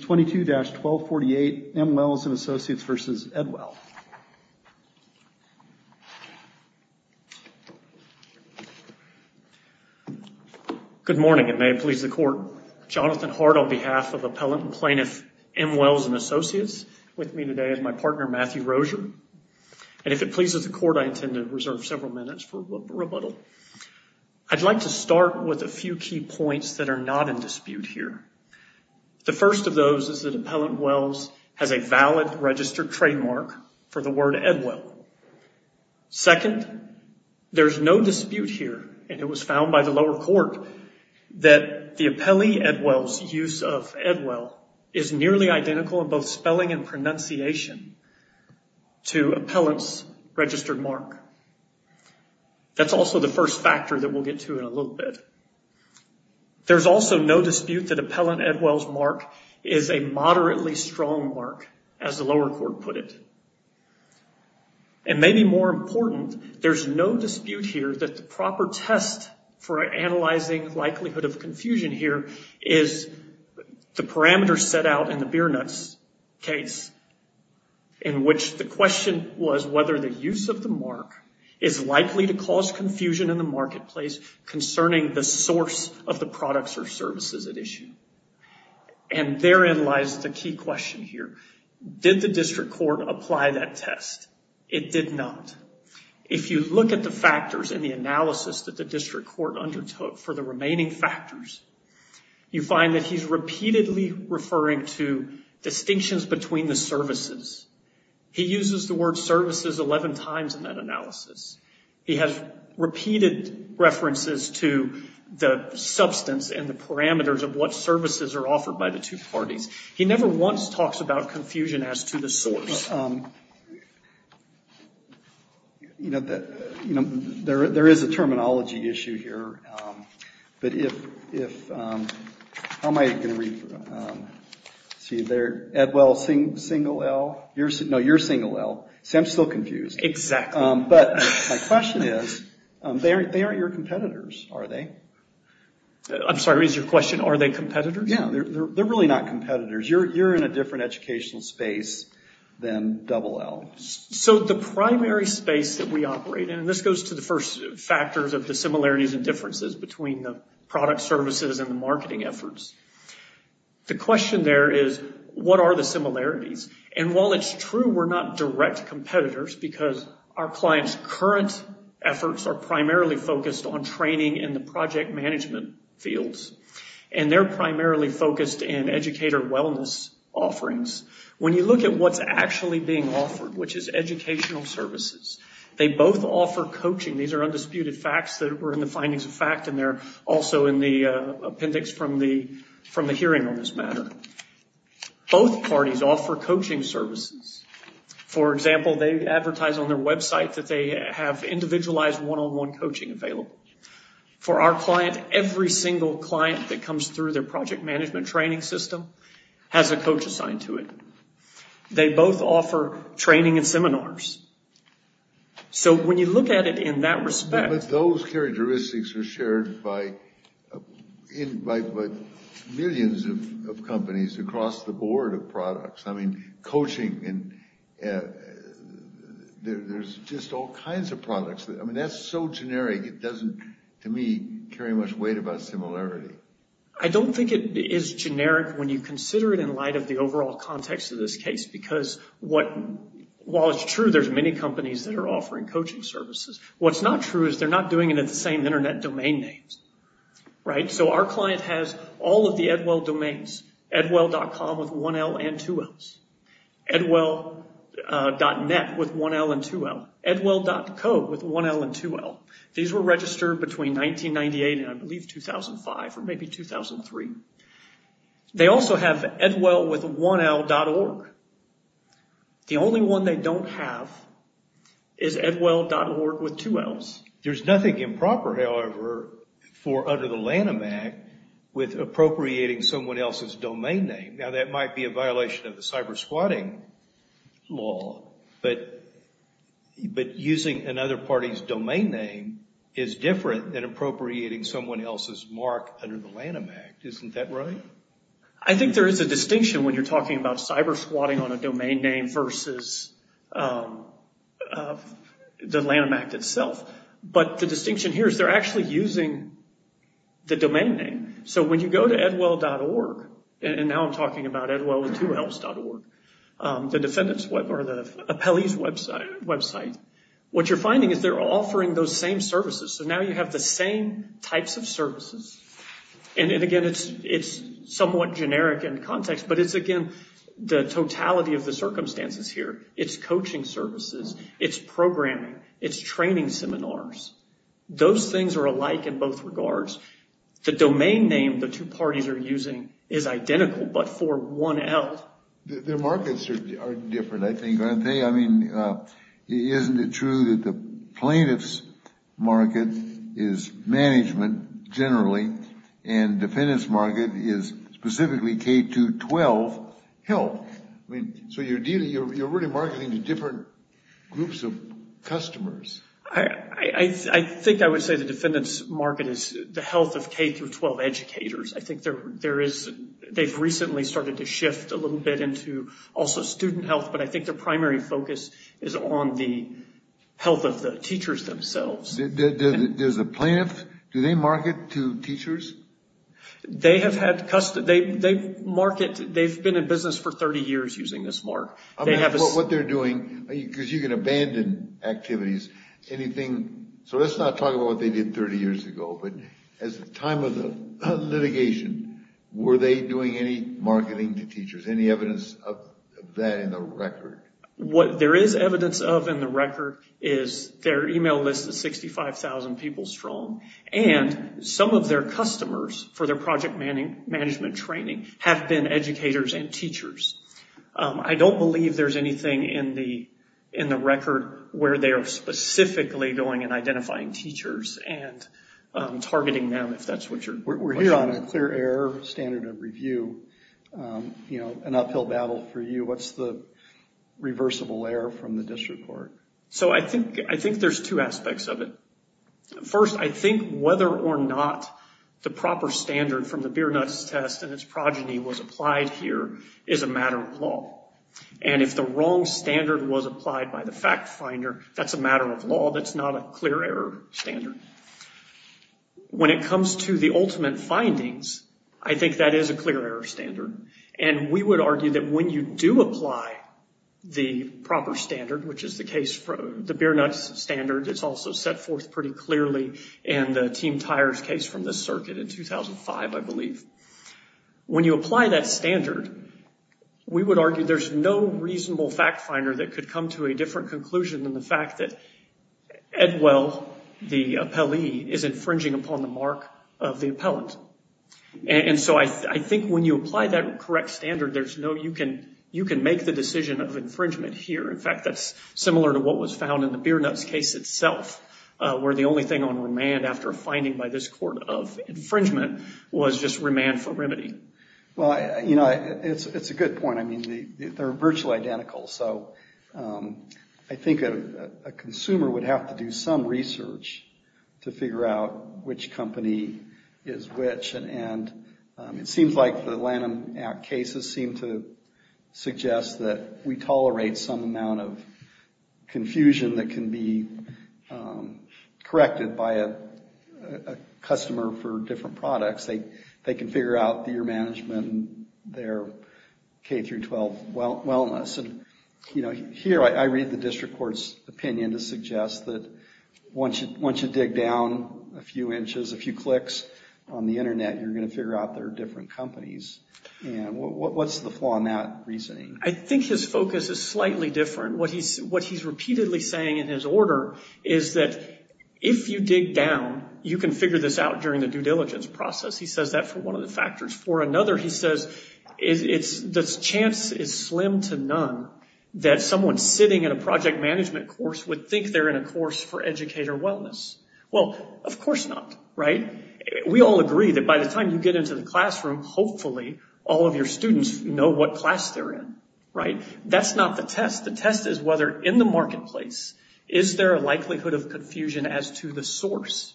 22-1248 M. Welles and Associates v. Edwell. Good morning and may it please the court, Jonathan Hart on behalf of Appellant and Plaintiff M. Welles and Associates with me today is my partner Matthew Rozier and if it pleases the court I intend to reserve several minutes for rebuttal. I'd like to start with a few key points that are not in dispute here. The first of those is that Appellant Welles has a valid registered trademark for the word Edwell. Second, there's no dispute here and it was found by the lower court that the appellee Edwell's use of Edwell is nearly identical in both spelling and pronunciation to Appellant's registered mark. That's also the first factor that we'll get to in a little bit. There's also no dispute that Appellant Edwell's mark is a moderately strong mark as the lower court put it. And maybe more important, there's no dispute here that the proper test for analyzing likelihood of confusion here is the parameter set out in the beer nuts case in which the question was whether the use of the mark is likely to cause confusion in the marketplace concerning the source of the products or services at issue. And therein lies the key question here. Did the district court apply that test? It did not. If you look at the factors in the analysis that the district court undertook for the remaining factors, you find that he's repeatedly referring to distinctions between the services. He uses the word services 11 times in that analysis. He has repeated references to the substance and the parameters of what services are offered by the two parties. He never once talks about confusion as to the source. There is a terminology issue here, but if, how am I going to read, see there, Edwell single L, no, you're single L, so I'm still confused. Exactly. But my question is, they aren't your competitors, are they? I'm sorry, is your question, are they competitors? Yeah, they're really not competitors. You're in a different educational space than double L. So the primary space that we operate in, and this goes to the first factors of the similarities and differences between the product services and the marketing efforts. The question there is, what are the similarities? And while it's true we're not direct competitors, because our clients' current efforts are primarily focused on training in the project management fields, and they're primarily focused in educator wellness offerings. When you look at what's actually being offered, which is educational services, they both offer coaching. These are undisputed facts that were in the findings of fact and they're also in the appendix from the hearing on this matter. Both parties offer coaching services. For example, they advertise on their website that they have individualized one-on-one coaching available. For our client, every single client that comes through their project management training system has a coach assigned to it. They both offer training and seminars. So when you look at it in that respect... across the board of products, I mean, coaching, there's just all kinds of products. That's so generic, it doesn't, to me, carry much weight about similarity. I don't think it is generic when you consider it in light of the overall context of this case, because while it's true there's many companies that are offering coaching services, what's not true is they're not doing it in the same internet domain names. So our client has all of the Edwell domains, edwell.com with 1L and 2Ls, edwell.net with 1L and 2L, edwell.co with 1L and 2L. These were registered between 1998 and I believe 2005 or maybe 2003. They also have edwellwith1l.org. The only one they don't have is edwell.org with 2Ls. There's nothing improper, however, for under the Lanham Act with appropriating someone else's domain name. Now, that might be a violation of the cybersquatting law, but using another party's domain name is different than appropriating someone else's mark under the Lanham Act, isn't that right? I think there is a distinction when you're talking about cybersquatting on a domain name versus the Lanham Act itself. But the distinction here is they're actually using the domain name. So when you go to edwell.org, and now I'm talking about edwellwith2Ls.org, the defendant's web or the appellee's website, what you're finding is they're offering those same services. So now you have the same types of services, and again, it's somewhat generic in context, but it's, again, the totality of the circumstances here. It's coaching services. It's programming. It's training seminars. Those things are alike in both regards. The domain name the two parties are using is identical, but for 1L. Their markets are different, I think, aren't they? I mean, isn't it true that the plaintiff's market is management, generally, and defendant's market is specifically K-12 health? So you're really marketing to different groups of customers. I think I would say the defendant's market is the health of K-12 educators. I think they've recently started to shift a little bit into also student health, but I think their primary focus is on the health of the teachers themselves. Does the plaintiff, do they market to teachers? They have had, they market, they've been in business for 30 years using this mark. I mean, what they're doing, because you can abandon activities, anything, so let's not talk about what they did 30 years ago, but at the time of the litigation, were they doing any marketing to teachers? Any evidence of that in the record? What there is evidence of in the record is their email list is 65,000 people strong, and some of their customers, for their project management training, have been educators and teachers. I don't believe there's anything in the record where they are specifically going and identifying teachers and targeting them, if that's what you're questioning. We're here on a clear error standard of review, an uphill battle for you. What's the reversible error from the district court? So I think there's two aspects of it. First, I think whether or not the proper standard from the Biernutz test and its progeny was applied here is a matter of law. And if the wrong standard was applied by the fact finder, that's a matter of law, that's not a clear error standard. When it comes to the ultimate findings, I think that is a clear error standard. And we would argue that when you do apply the proper standard, which is the case for the Biernutz standard, it's also set forth pretty clearly in the Team Tires case from the circuit in 2005, I believe. When you apply that standard, we would argue there's no reasonable fact finder that could come to a different conclusion than the fact that Edwell, the appellee, is infringing upon the mark of the appellant. And so I think when you apply that correct standard, you can make the decision of infringement here. In fact, that's similar to what was found in the Biernutz case itself, where the only thing on remand after a finding by this court of infringement was just remand for remedy. Well, you know, it's a good point. I mean, they're virtually identical. So I think a consumer would have to do some research to figure out which company is which. And it seems like the Lanham Act cases seem to suggest that we tolerate some amount of confusion that can be corrected by a customer for different products. They can figure out their management, their K through 12 wellness. And, you know, here I read the district court's opinion to suggest that once you dig down a few inches, a few clicks on the internet, you're going to figure out there are different companies. And what's the flaw in that reasoning? I think his focus is slightly different. What he's repeatedly saying in his order is that if you dig down, you can figure this out during the due diligence process. He says that for one of the factors. For another, he says the chance is slim to none that someone sitting in a project management course would think they're in a course for educator wellness. Well, of course not, right? We all agree that by the time you get into the classroom, hopefully all of your students know what class they're in, right? That's not the test. The test is whether in the marketplace, is there a likelihood of confusion as to the source?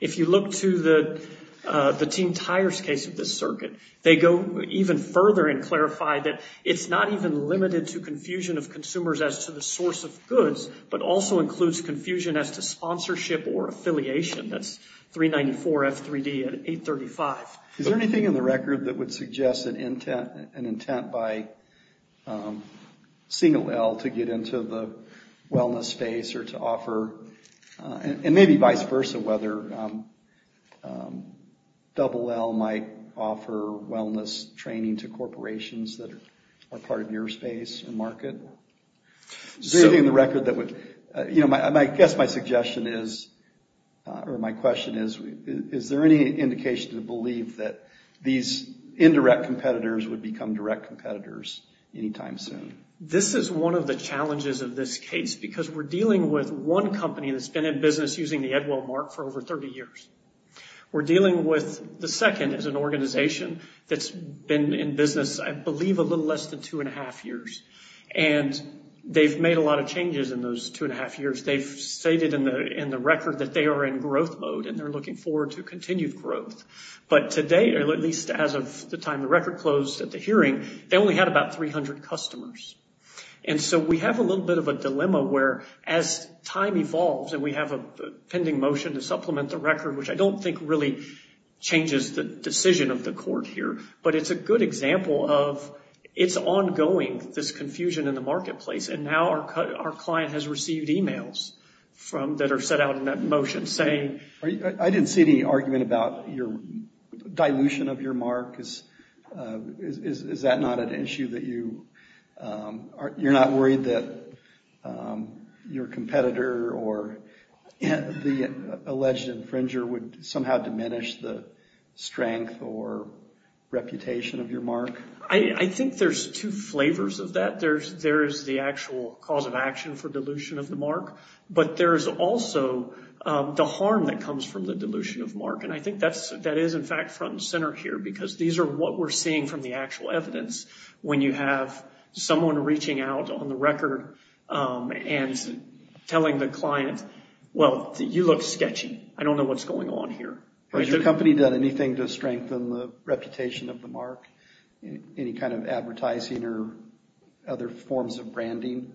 If you look to the team tires case of this circuit, they go even further and clarify that it's not even limited to confusion of consumers as to the source of goods, but also includes confusion as to sponsorship or affiliation. That's 394F3D and 835. Is there anything in the record that would suggest an intent by single L to get into the wellness space or to offer, and maybe vice versa, whether double L might offer wellness training to corporations that are part of your space and market? I guess my suggestion is, or my question is, is there any indication to believe that these indirect competitors would become direct competitors anytime soon? This is one of the challenges of this case because we're dealing with one company that's been in business using the Edwell mark for over 30 years. We're dealing with the second as an organization that's been in business, I believe, a little less than two and a half years. They've made a lot of changes in those two and a half years. They've stated in the record that they are in growth mode and they're looking forward to continued growth. But today, or at least as of the time the record closed at the hearing, they only had about 300 customers. We have a little bit of a dilemma where as time evolves and we have a pending motion to supplement the record, which I don't think really changes the decision of the court here, but it's a good example of, it's ongoing, this confusion in the marketplace. And now our client has received emails that are set out in that motion saying... I didn't see any argument about your dilution of your mark. Is that not an issue that you... You're not worried that your competitor or the alleged infringer would somehow diminish the strength or reputation of your mark? I think there's two flavors of that. There's the actual cause of action for dilution of the mark, but there's also the harm that comes from the dilution of mark. And I think that is in fact front and center here because these are what we're seeing from the actual evidence. When you have someone reaching out on the record and telling the client, well, you look sketchy. I don't know what's going on here. Has your company done anything to strengthen the reputation of the mark? Any kind of advertising or other forms of branding?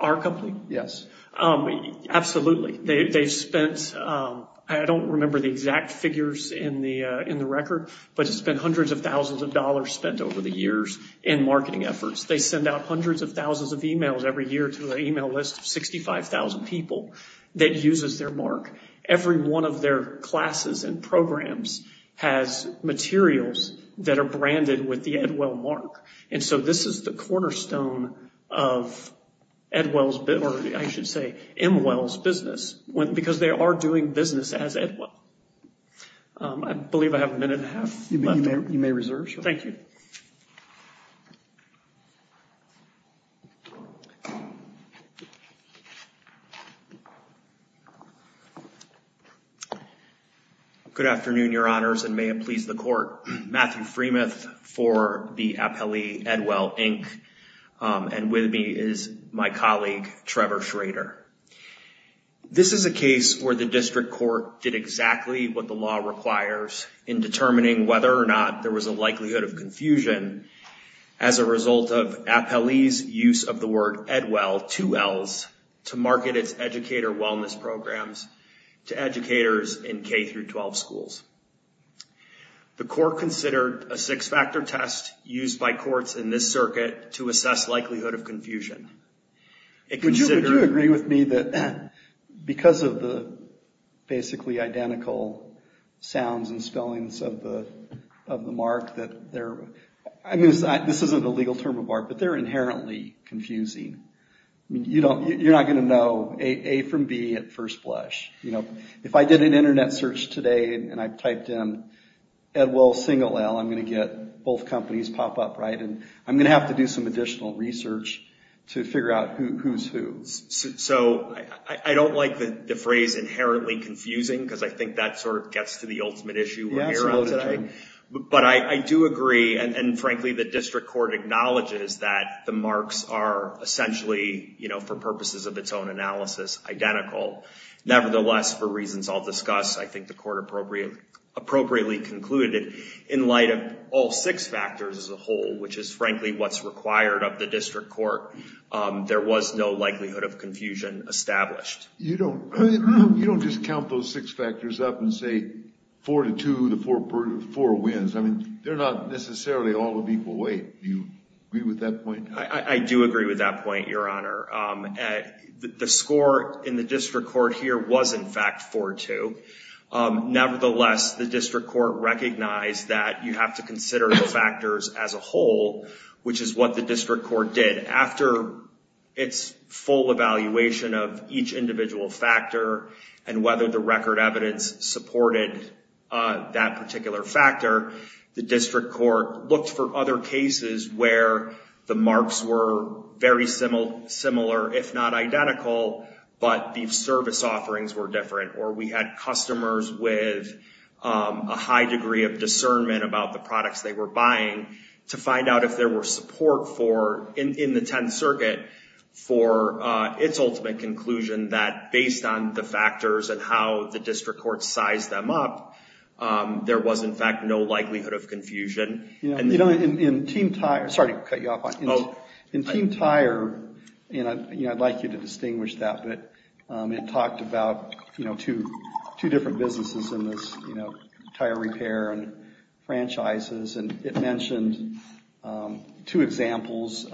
Our company? Yes. Absolutely. They've spent, I don't remember the exact figures in the record, but it's been hundreds of thousands of dollars spent over the years in marketing efforts. They send out hundreds of thousands of emails every year to an email list of 65,000 people that uses their mark. Every one of their classes and programs has materials that are branded with the Edwell mark. And so this is the cornerstone of Edwell's, or I should say, Emwell's business because they are doing business as Edwell. I believe I have a minute and a half left. You may reserve. Thank you. Good afternoon, your honors, and may it please the court. Matthew Freemuth for the Appellee Edwell, Inc. And with me is my colleague, Trevor Schrader. This is a case where the district court did exactly what the law requires in determining whether or not there was a likelihood of confusion as a result of Appellee's use of the word Edwell, two L's, to market its educator wellness programs to educators in K-12 schools. The court considered a six-factor test used by courts in this circuit to assess likelihood of confusion. It considered... Would you agree with me that because of the basically identical sounds and spellings of the mark that there... This isn't a legal term of art, but they're inherently confusing. You're not going to know A from B at first blush. If I did an internet search today and I typed in Edwell, single L, I'm going to get both companies pop up, right? And I'm going to have to do some additional research to figure out who's who. So I don't like the phrase inherently confusing because I think that sort of gets to the ultimate issue we're here on today. But I do agree, and frankly, the district court acknowledges that the marks are essentially, for purposes of its own analysis, identical. Nevertheless, for reasons I'll discuss, I think the court appropriately concluded in light of all six factors as a whole, which is frankly what's required of the district court, there was no likelihood of confusion established. You don't just count those six factors up and say four to two, the four wins. I mean, they're not necessarily all of equal weight. Do you agree with that point? I do agree with that point, Your Honor. The score in the district court here was in fact four to two. Nevertheless, the district court recognized that you have to consider the factors as a whole, which is what the district court did. After its full evaluation of each individual factor and whether the record evidence supported that particular factor, the district court looked for other cases where the marks were very similar, if not identical, but the service offerings were different. Or we had customers with a high degree of discernment about the products they were buying to find out if there were support in the Tenth Circuit for its ultimate conclusion that based on the factors and how the district court sized them up, there was in fact no likelihood of confusion. In Team Tire, I'd like you to distinguish that, but it talked about two different businesses in this tire repair and franchises. It mentioned two examples,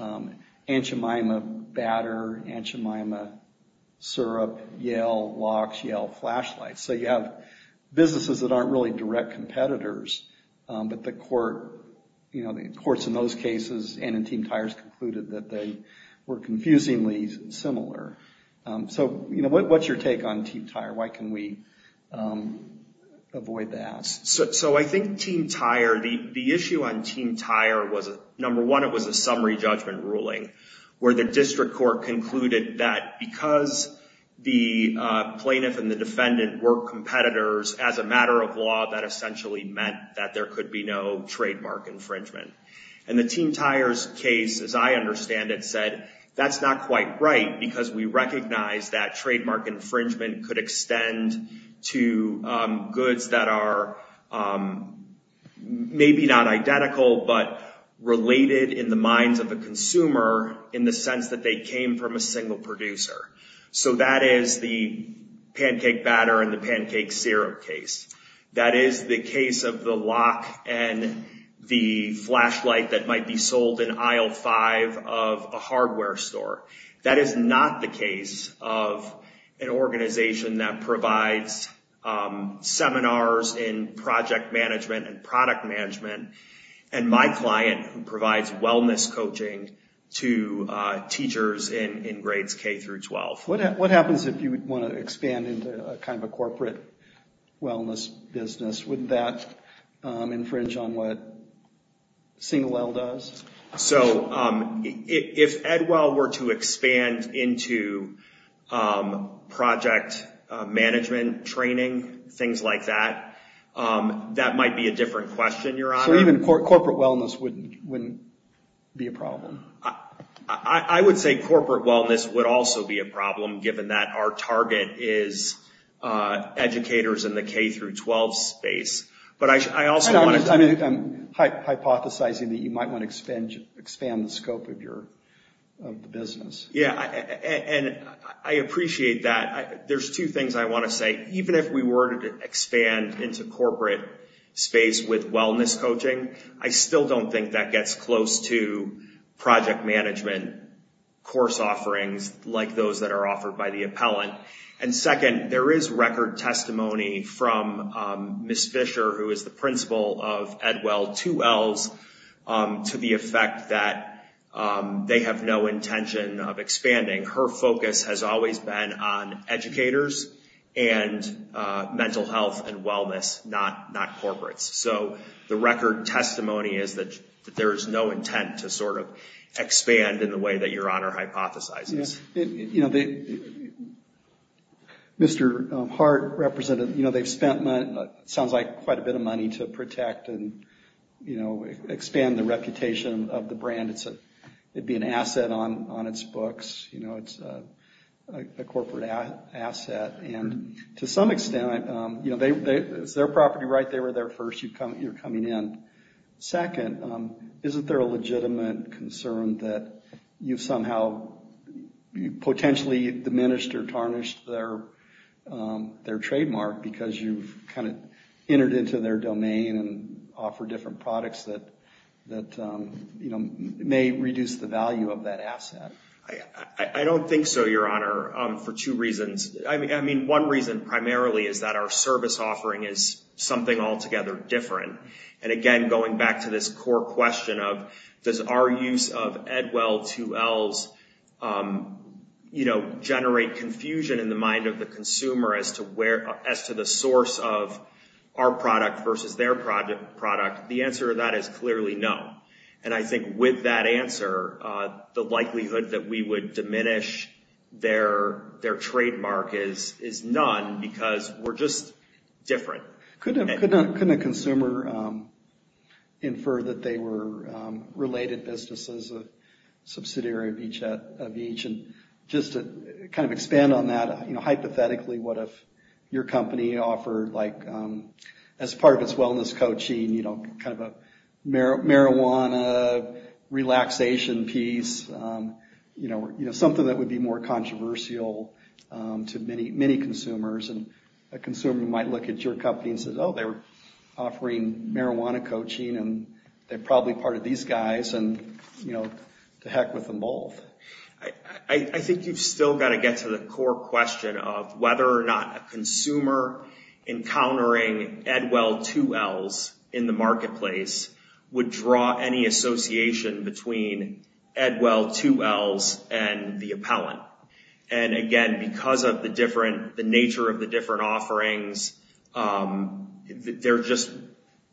Anchemima Batter, Anchemima Syrup, Yale Locks, Yale Flashlights. So you have businesses that aren't really direct competitors, but the courts in those cases and in Team Tire's concluded that they were confusingly similar. What's your take on Team Tire? Why can we avoid that? So I think Team Tire, the issue on Team Tire was number one, it was a summary judgment ruling where the district court concluded that because the plaintiff and the defendant were competitors as a matter of law, that essentially meant that there could be no trademark infringement. And the Team Tire's case, as I understand it, said that's not quite right because we tend to extend to goods that are maybe not identical, but related in the minds of the consumer in the sense that they came from a single producer. So that is the Pancake Batter and the Pancake Syrup case. That is the case of the lock and the flashlight that might be sold in aisle five of a hardware store. That is not the case of an organization that provides seminars in project management and product management and my client who provides wellness coaching to teachers in grades K through 12. What happens if you want to expand into a kind of a corporate wellness business? Wouldn't that infringe on what Single Well does? So if Edwell were to expand into project management training, things like that, that might be a different question, Your Honor. So even corporate wellness wouldn't be a problem? I would say corporate wellness would also be a problem given that our target is educators in the K through 12 space. I'm hypothesizing that you might want to expand the scope of the business. And I appreciate that. There's two things I want to say. Even if we were to expand into corporate space with wellness coaching, I still don't think that gets close to project management course offerings like those that are offered by the appellant. And second, there is record testimony from Ms. Fisher, who is the principal of Edwell, two L's, to the effect that they have no intention of expanding. Her focus has always been on educators and mental health and wellness, not corporates. So the record testimony is that there is no intent to sort of expand in the way that Your Honor hypothesizes. Mr. Hart, Representative, you know, they've spent what sounds like quite a bit of money to protect and expand the reputation of the brand. It'd be an asset on its books. You know, it's a corporate asset. And to some extent, you know, it's their property, right? They were there first. You're coming in. Second, isn't there a legitimate concern that you've somehow potentially diminished or tarnished their trademark because you've kind of entered into their domain and offer different products that, you know, may reduce the value of that asset? I don't think so, Your Honor, for two reasons. I mean, one reason primarily is that our service offering is something altogether different. And again, going back to this core question of does our use of Edwell 2Ls, you know, generate confusion in the mind of the consumer as to the source of our product versus their product? The answer to that is clearly no. And I think with that answer, the likelihood that we would diminish their trademark is none because we're just different. Couldn't a consumer infer that they were related businesses, a subsidiary of each? And just to kind of expand on that, you know, hypothetically, what if your company offered, like, as part of its wellness coaching, you know, kind of a marijuana relaxation piece, you know, something that would be more controversial to many, many consumers? And a consumer might look at your company and say, oh, they're offering marijuana coaching, and they're probably part of these guys. And, you know, to heck with them both. I think you've still got to get to the core question of whether or not a consumer encountering Edwell 2Ls in the marketplace would draw any association between Edwell 2Ls and the appellant. And, again, because of the different, the nature of the different offerings, they're just,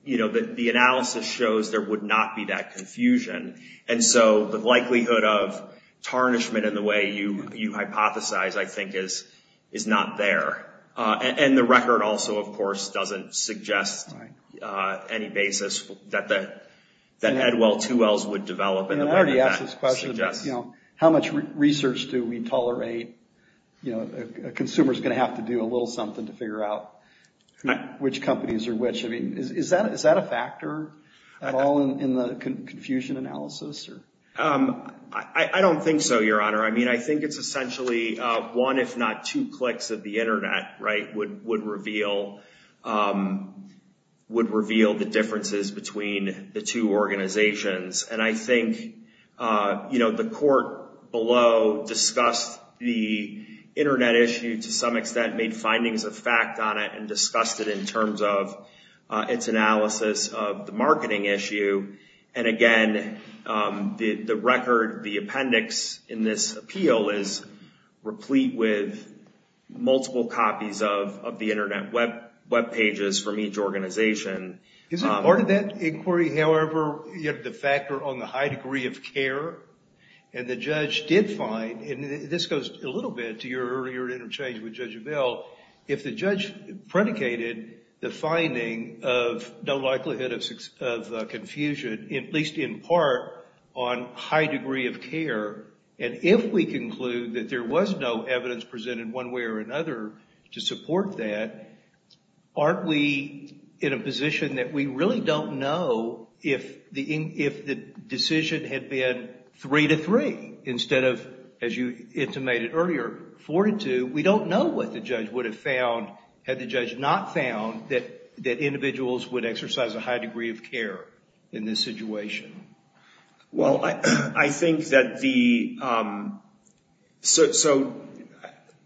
you know, the analysis shows there would not be that confusion. And so the likelihood of tarnishment in the way you hypothesize, I think, is not there. And the record also, of course, doesn't suggest any basis that Edwell 2Ls would develop. And I already asked this question, you know, how much research do we tolerate? You know, a consumer is going to have to do a little something to figure out which companies are which. I mean, is that a factor at all in the confusion analysis? I don't think so, Your Honor. I mean, I think it's essentially one, if not two, clicks of the internet, right, would reveal the differences between the two organizations. And I think, you know, the court below discussed the internet issue to some extent, made findings of fact on it, and discussed it in terms of its analysis of the marketing issue. And, again, the record, the appendix in this appeal is replete with multiple copies of the internet web pages from each organization. Is part of that inquiry, however, the factor on the high degree of care? And the judge did find, and this goes a little bit to your earlier interchange with Judge Avell, if the judge predicated the finding of no likelihood of confusion, at least in part, on high degree of care, and if we conclude that there was no evidence presented one way or another to support that, aren't we in a position that we really don't know if the decision had been three to three instead of, as you intimated earlier, four to two? We don't know what the judge would have found had the judge not found that individuals would exercise a high degree of care in this situation. Well, I think that the, so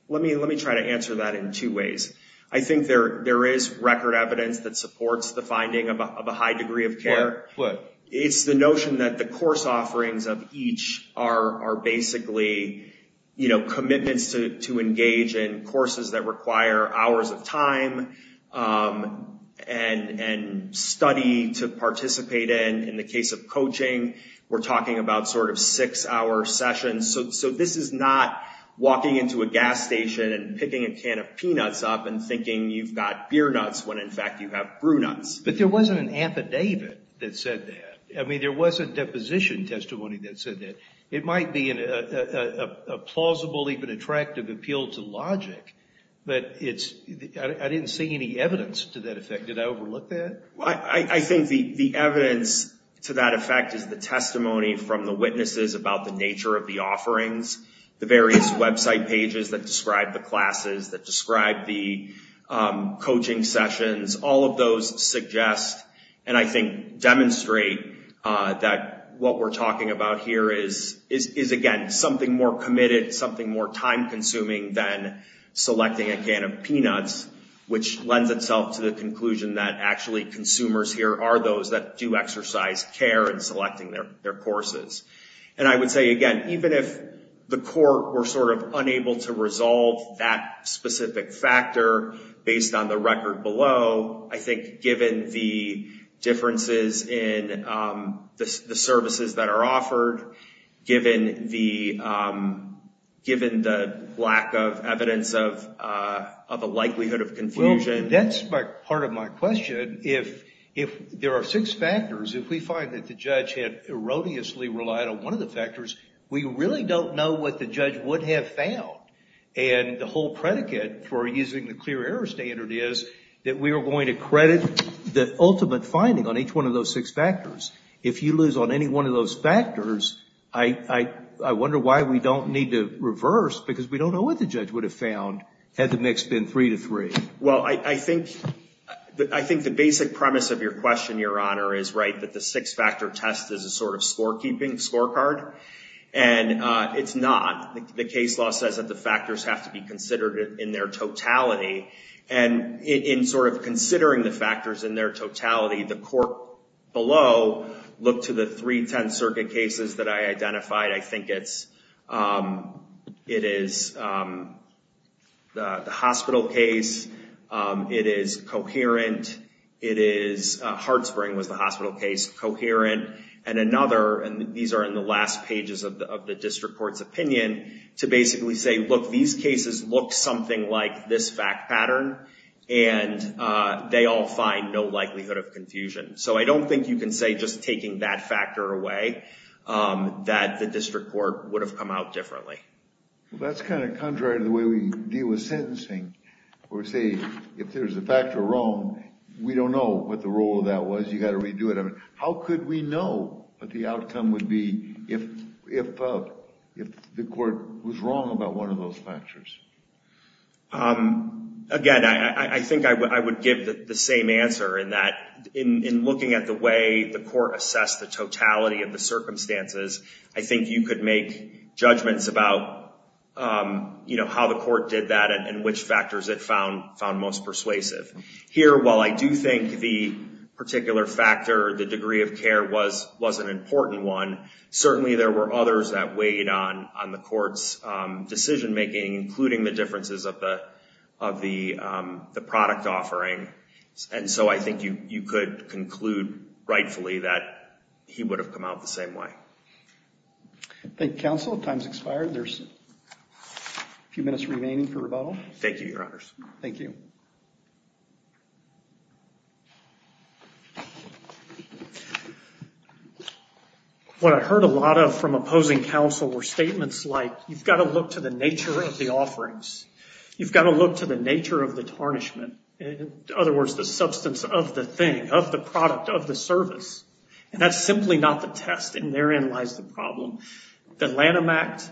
let me try to answer that in two ways. I think there is record evidence that supports the finding of a high degree of care. What? It's the notion that the course offerings of each are basically, you know, commitments to engage in courses that require hours of time and study to participate in, in the case of coaching, we're talking about sort of six-hour sessions. So this is not walking into a gas station and picking a can of peanuts up and thinking you've got beer nuts when, in fact, you have brunettes. But there wasn't an affidavit that said that. I mean, there was a deposition testimony that said that. It might be a plausible, even attractive, appeal to logic, but I didn't see any evidence to that effect. Did I overlook that? I think the evidence to that effect is the testimony from the witnesses about the nature of the offerings, the various website pages that describe the classes, that describe the coaching sessions, all of those suggest, and I think demonstrate, that what we're talking about here is, again, something more committed, something more time consuming than selecting a can of peanuts, which lends itself to the conclusion that, actually, consumers here are those that do exercise care in selecting their courses. And I would say, again, even if the court were sort of unable to resolve that specific factor based on the record below, I think given the differences in the services that are offered, given the lack of evidence of a likelihood of confusion. Well, that's part of my question. If there are six factors, if we find that the judge had erroneously relied on one of the factors, we really don't know what the judge would have found. And the whole predicate for using the clear error standard is that we are going to credit the ultimate finding on each one of those six factors. If you lose on any one of those factors, I wonder why we don't need to reverse, because we don't know what the judge would have found had the mix been three to three. Well, I think the basic premise of your question, Your Honor, is right that the six-factor test is a sort of scorekeeping scorecard. And it's not. The case law says that the factors have to be considered in their totality. And in sort of considering the factors in their totality, the court below looked to the three Tenth Circuit cases that I identified. I think it is the hospital case. It is coherent. Hartsbring was the hospital case. Coherent. And another, and these are in the last pages of the district court's opinion, to basically say, look, these cases look something like this fact pattern. And they all find no likelihood of confusion. So I don't think you can say just taking that factor away that the district court would have come out differently. That's kind of contrary to the way we deal with sentencing, where we say, if there's a factor wrong, we don't know what the role of that was. You got to redo it. How could we know what the outcome would be if the court was wrong about one of those factors? Again, I think I would give the same answer in that in looking at the way the court assessed the totality of the circumstances, I think you could make judgments about how the court did that and which factors it found most persuasive. Here, while I do think the particular factor, the degree of care was an important one, certainly there were others that weighed on the court's decision making, including the differences of the product offering. And so I think you could conclude, rightfully, that he would have come out the same way. Thank you, counsel. Time's expired. There's a few minutes remaining for rebuttal. Thank you, your honors. Thank you. What I heard a lot of from opposing counsel were statements like, you've got to look to the nature of the offerings. You've got to look to the nature of the tarnishment. In other words, the substance of the thing, of the product, of the service. And that's simply not the test. And therein lies the problem. The Lanham Act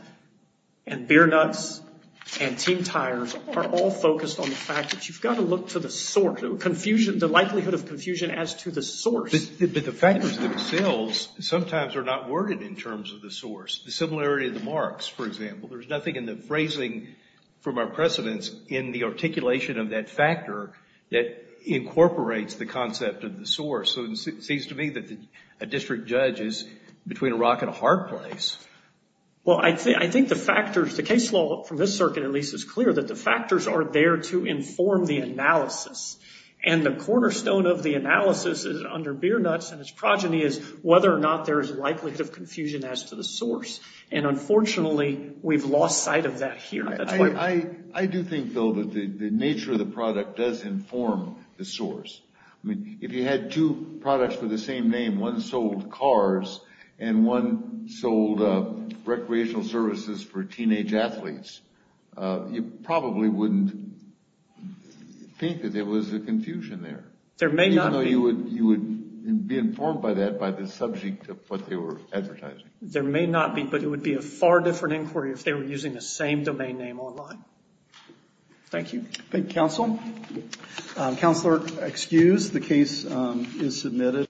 and beer nuts and team tires are all focused on the fact that you've got to look to the likelihood of confusion as to the source. But the fact is that sales sometimes are not worded in terms of the source. The similarity of the marks, for example, there's nothing in the phrasing from our precedents in the articulation of that factor that incorporates the concept of the source. So it seems to me that a district judge is between a rock and a hard place. Well, I think the factors, the case law from this circuit, at least, is clear that the factors are there to inform the analysis. And the cornerstone of the analysis under beer nuts and its progeny whether or not there is likelihood of confusion as to the source. And unfortunately, we've lost sight of that here. I do think, though, that the nature of the product does inform the source. I mean, if you had two products with the same name, one sold cars and one sold recreational services for teenage athletes, you probably wouldn't think that there was a confusion there. Even though you would be informed by that by the subject of what they were advertising. There may not be, but it would be a far different inquiry if they were using the same domain name online. Thank you. Thank you, counsel. Counselor, excused. The case is submitted.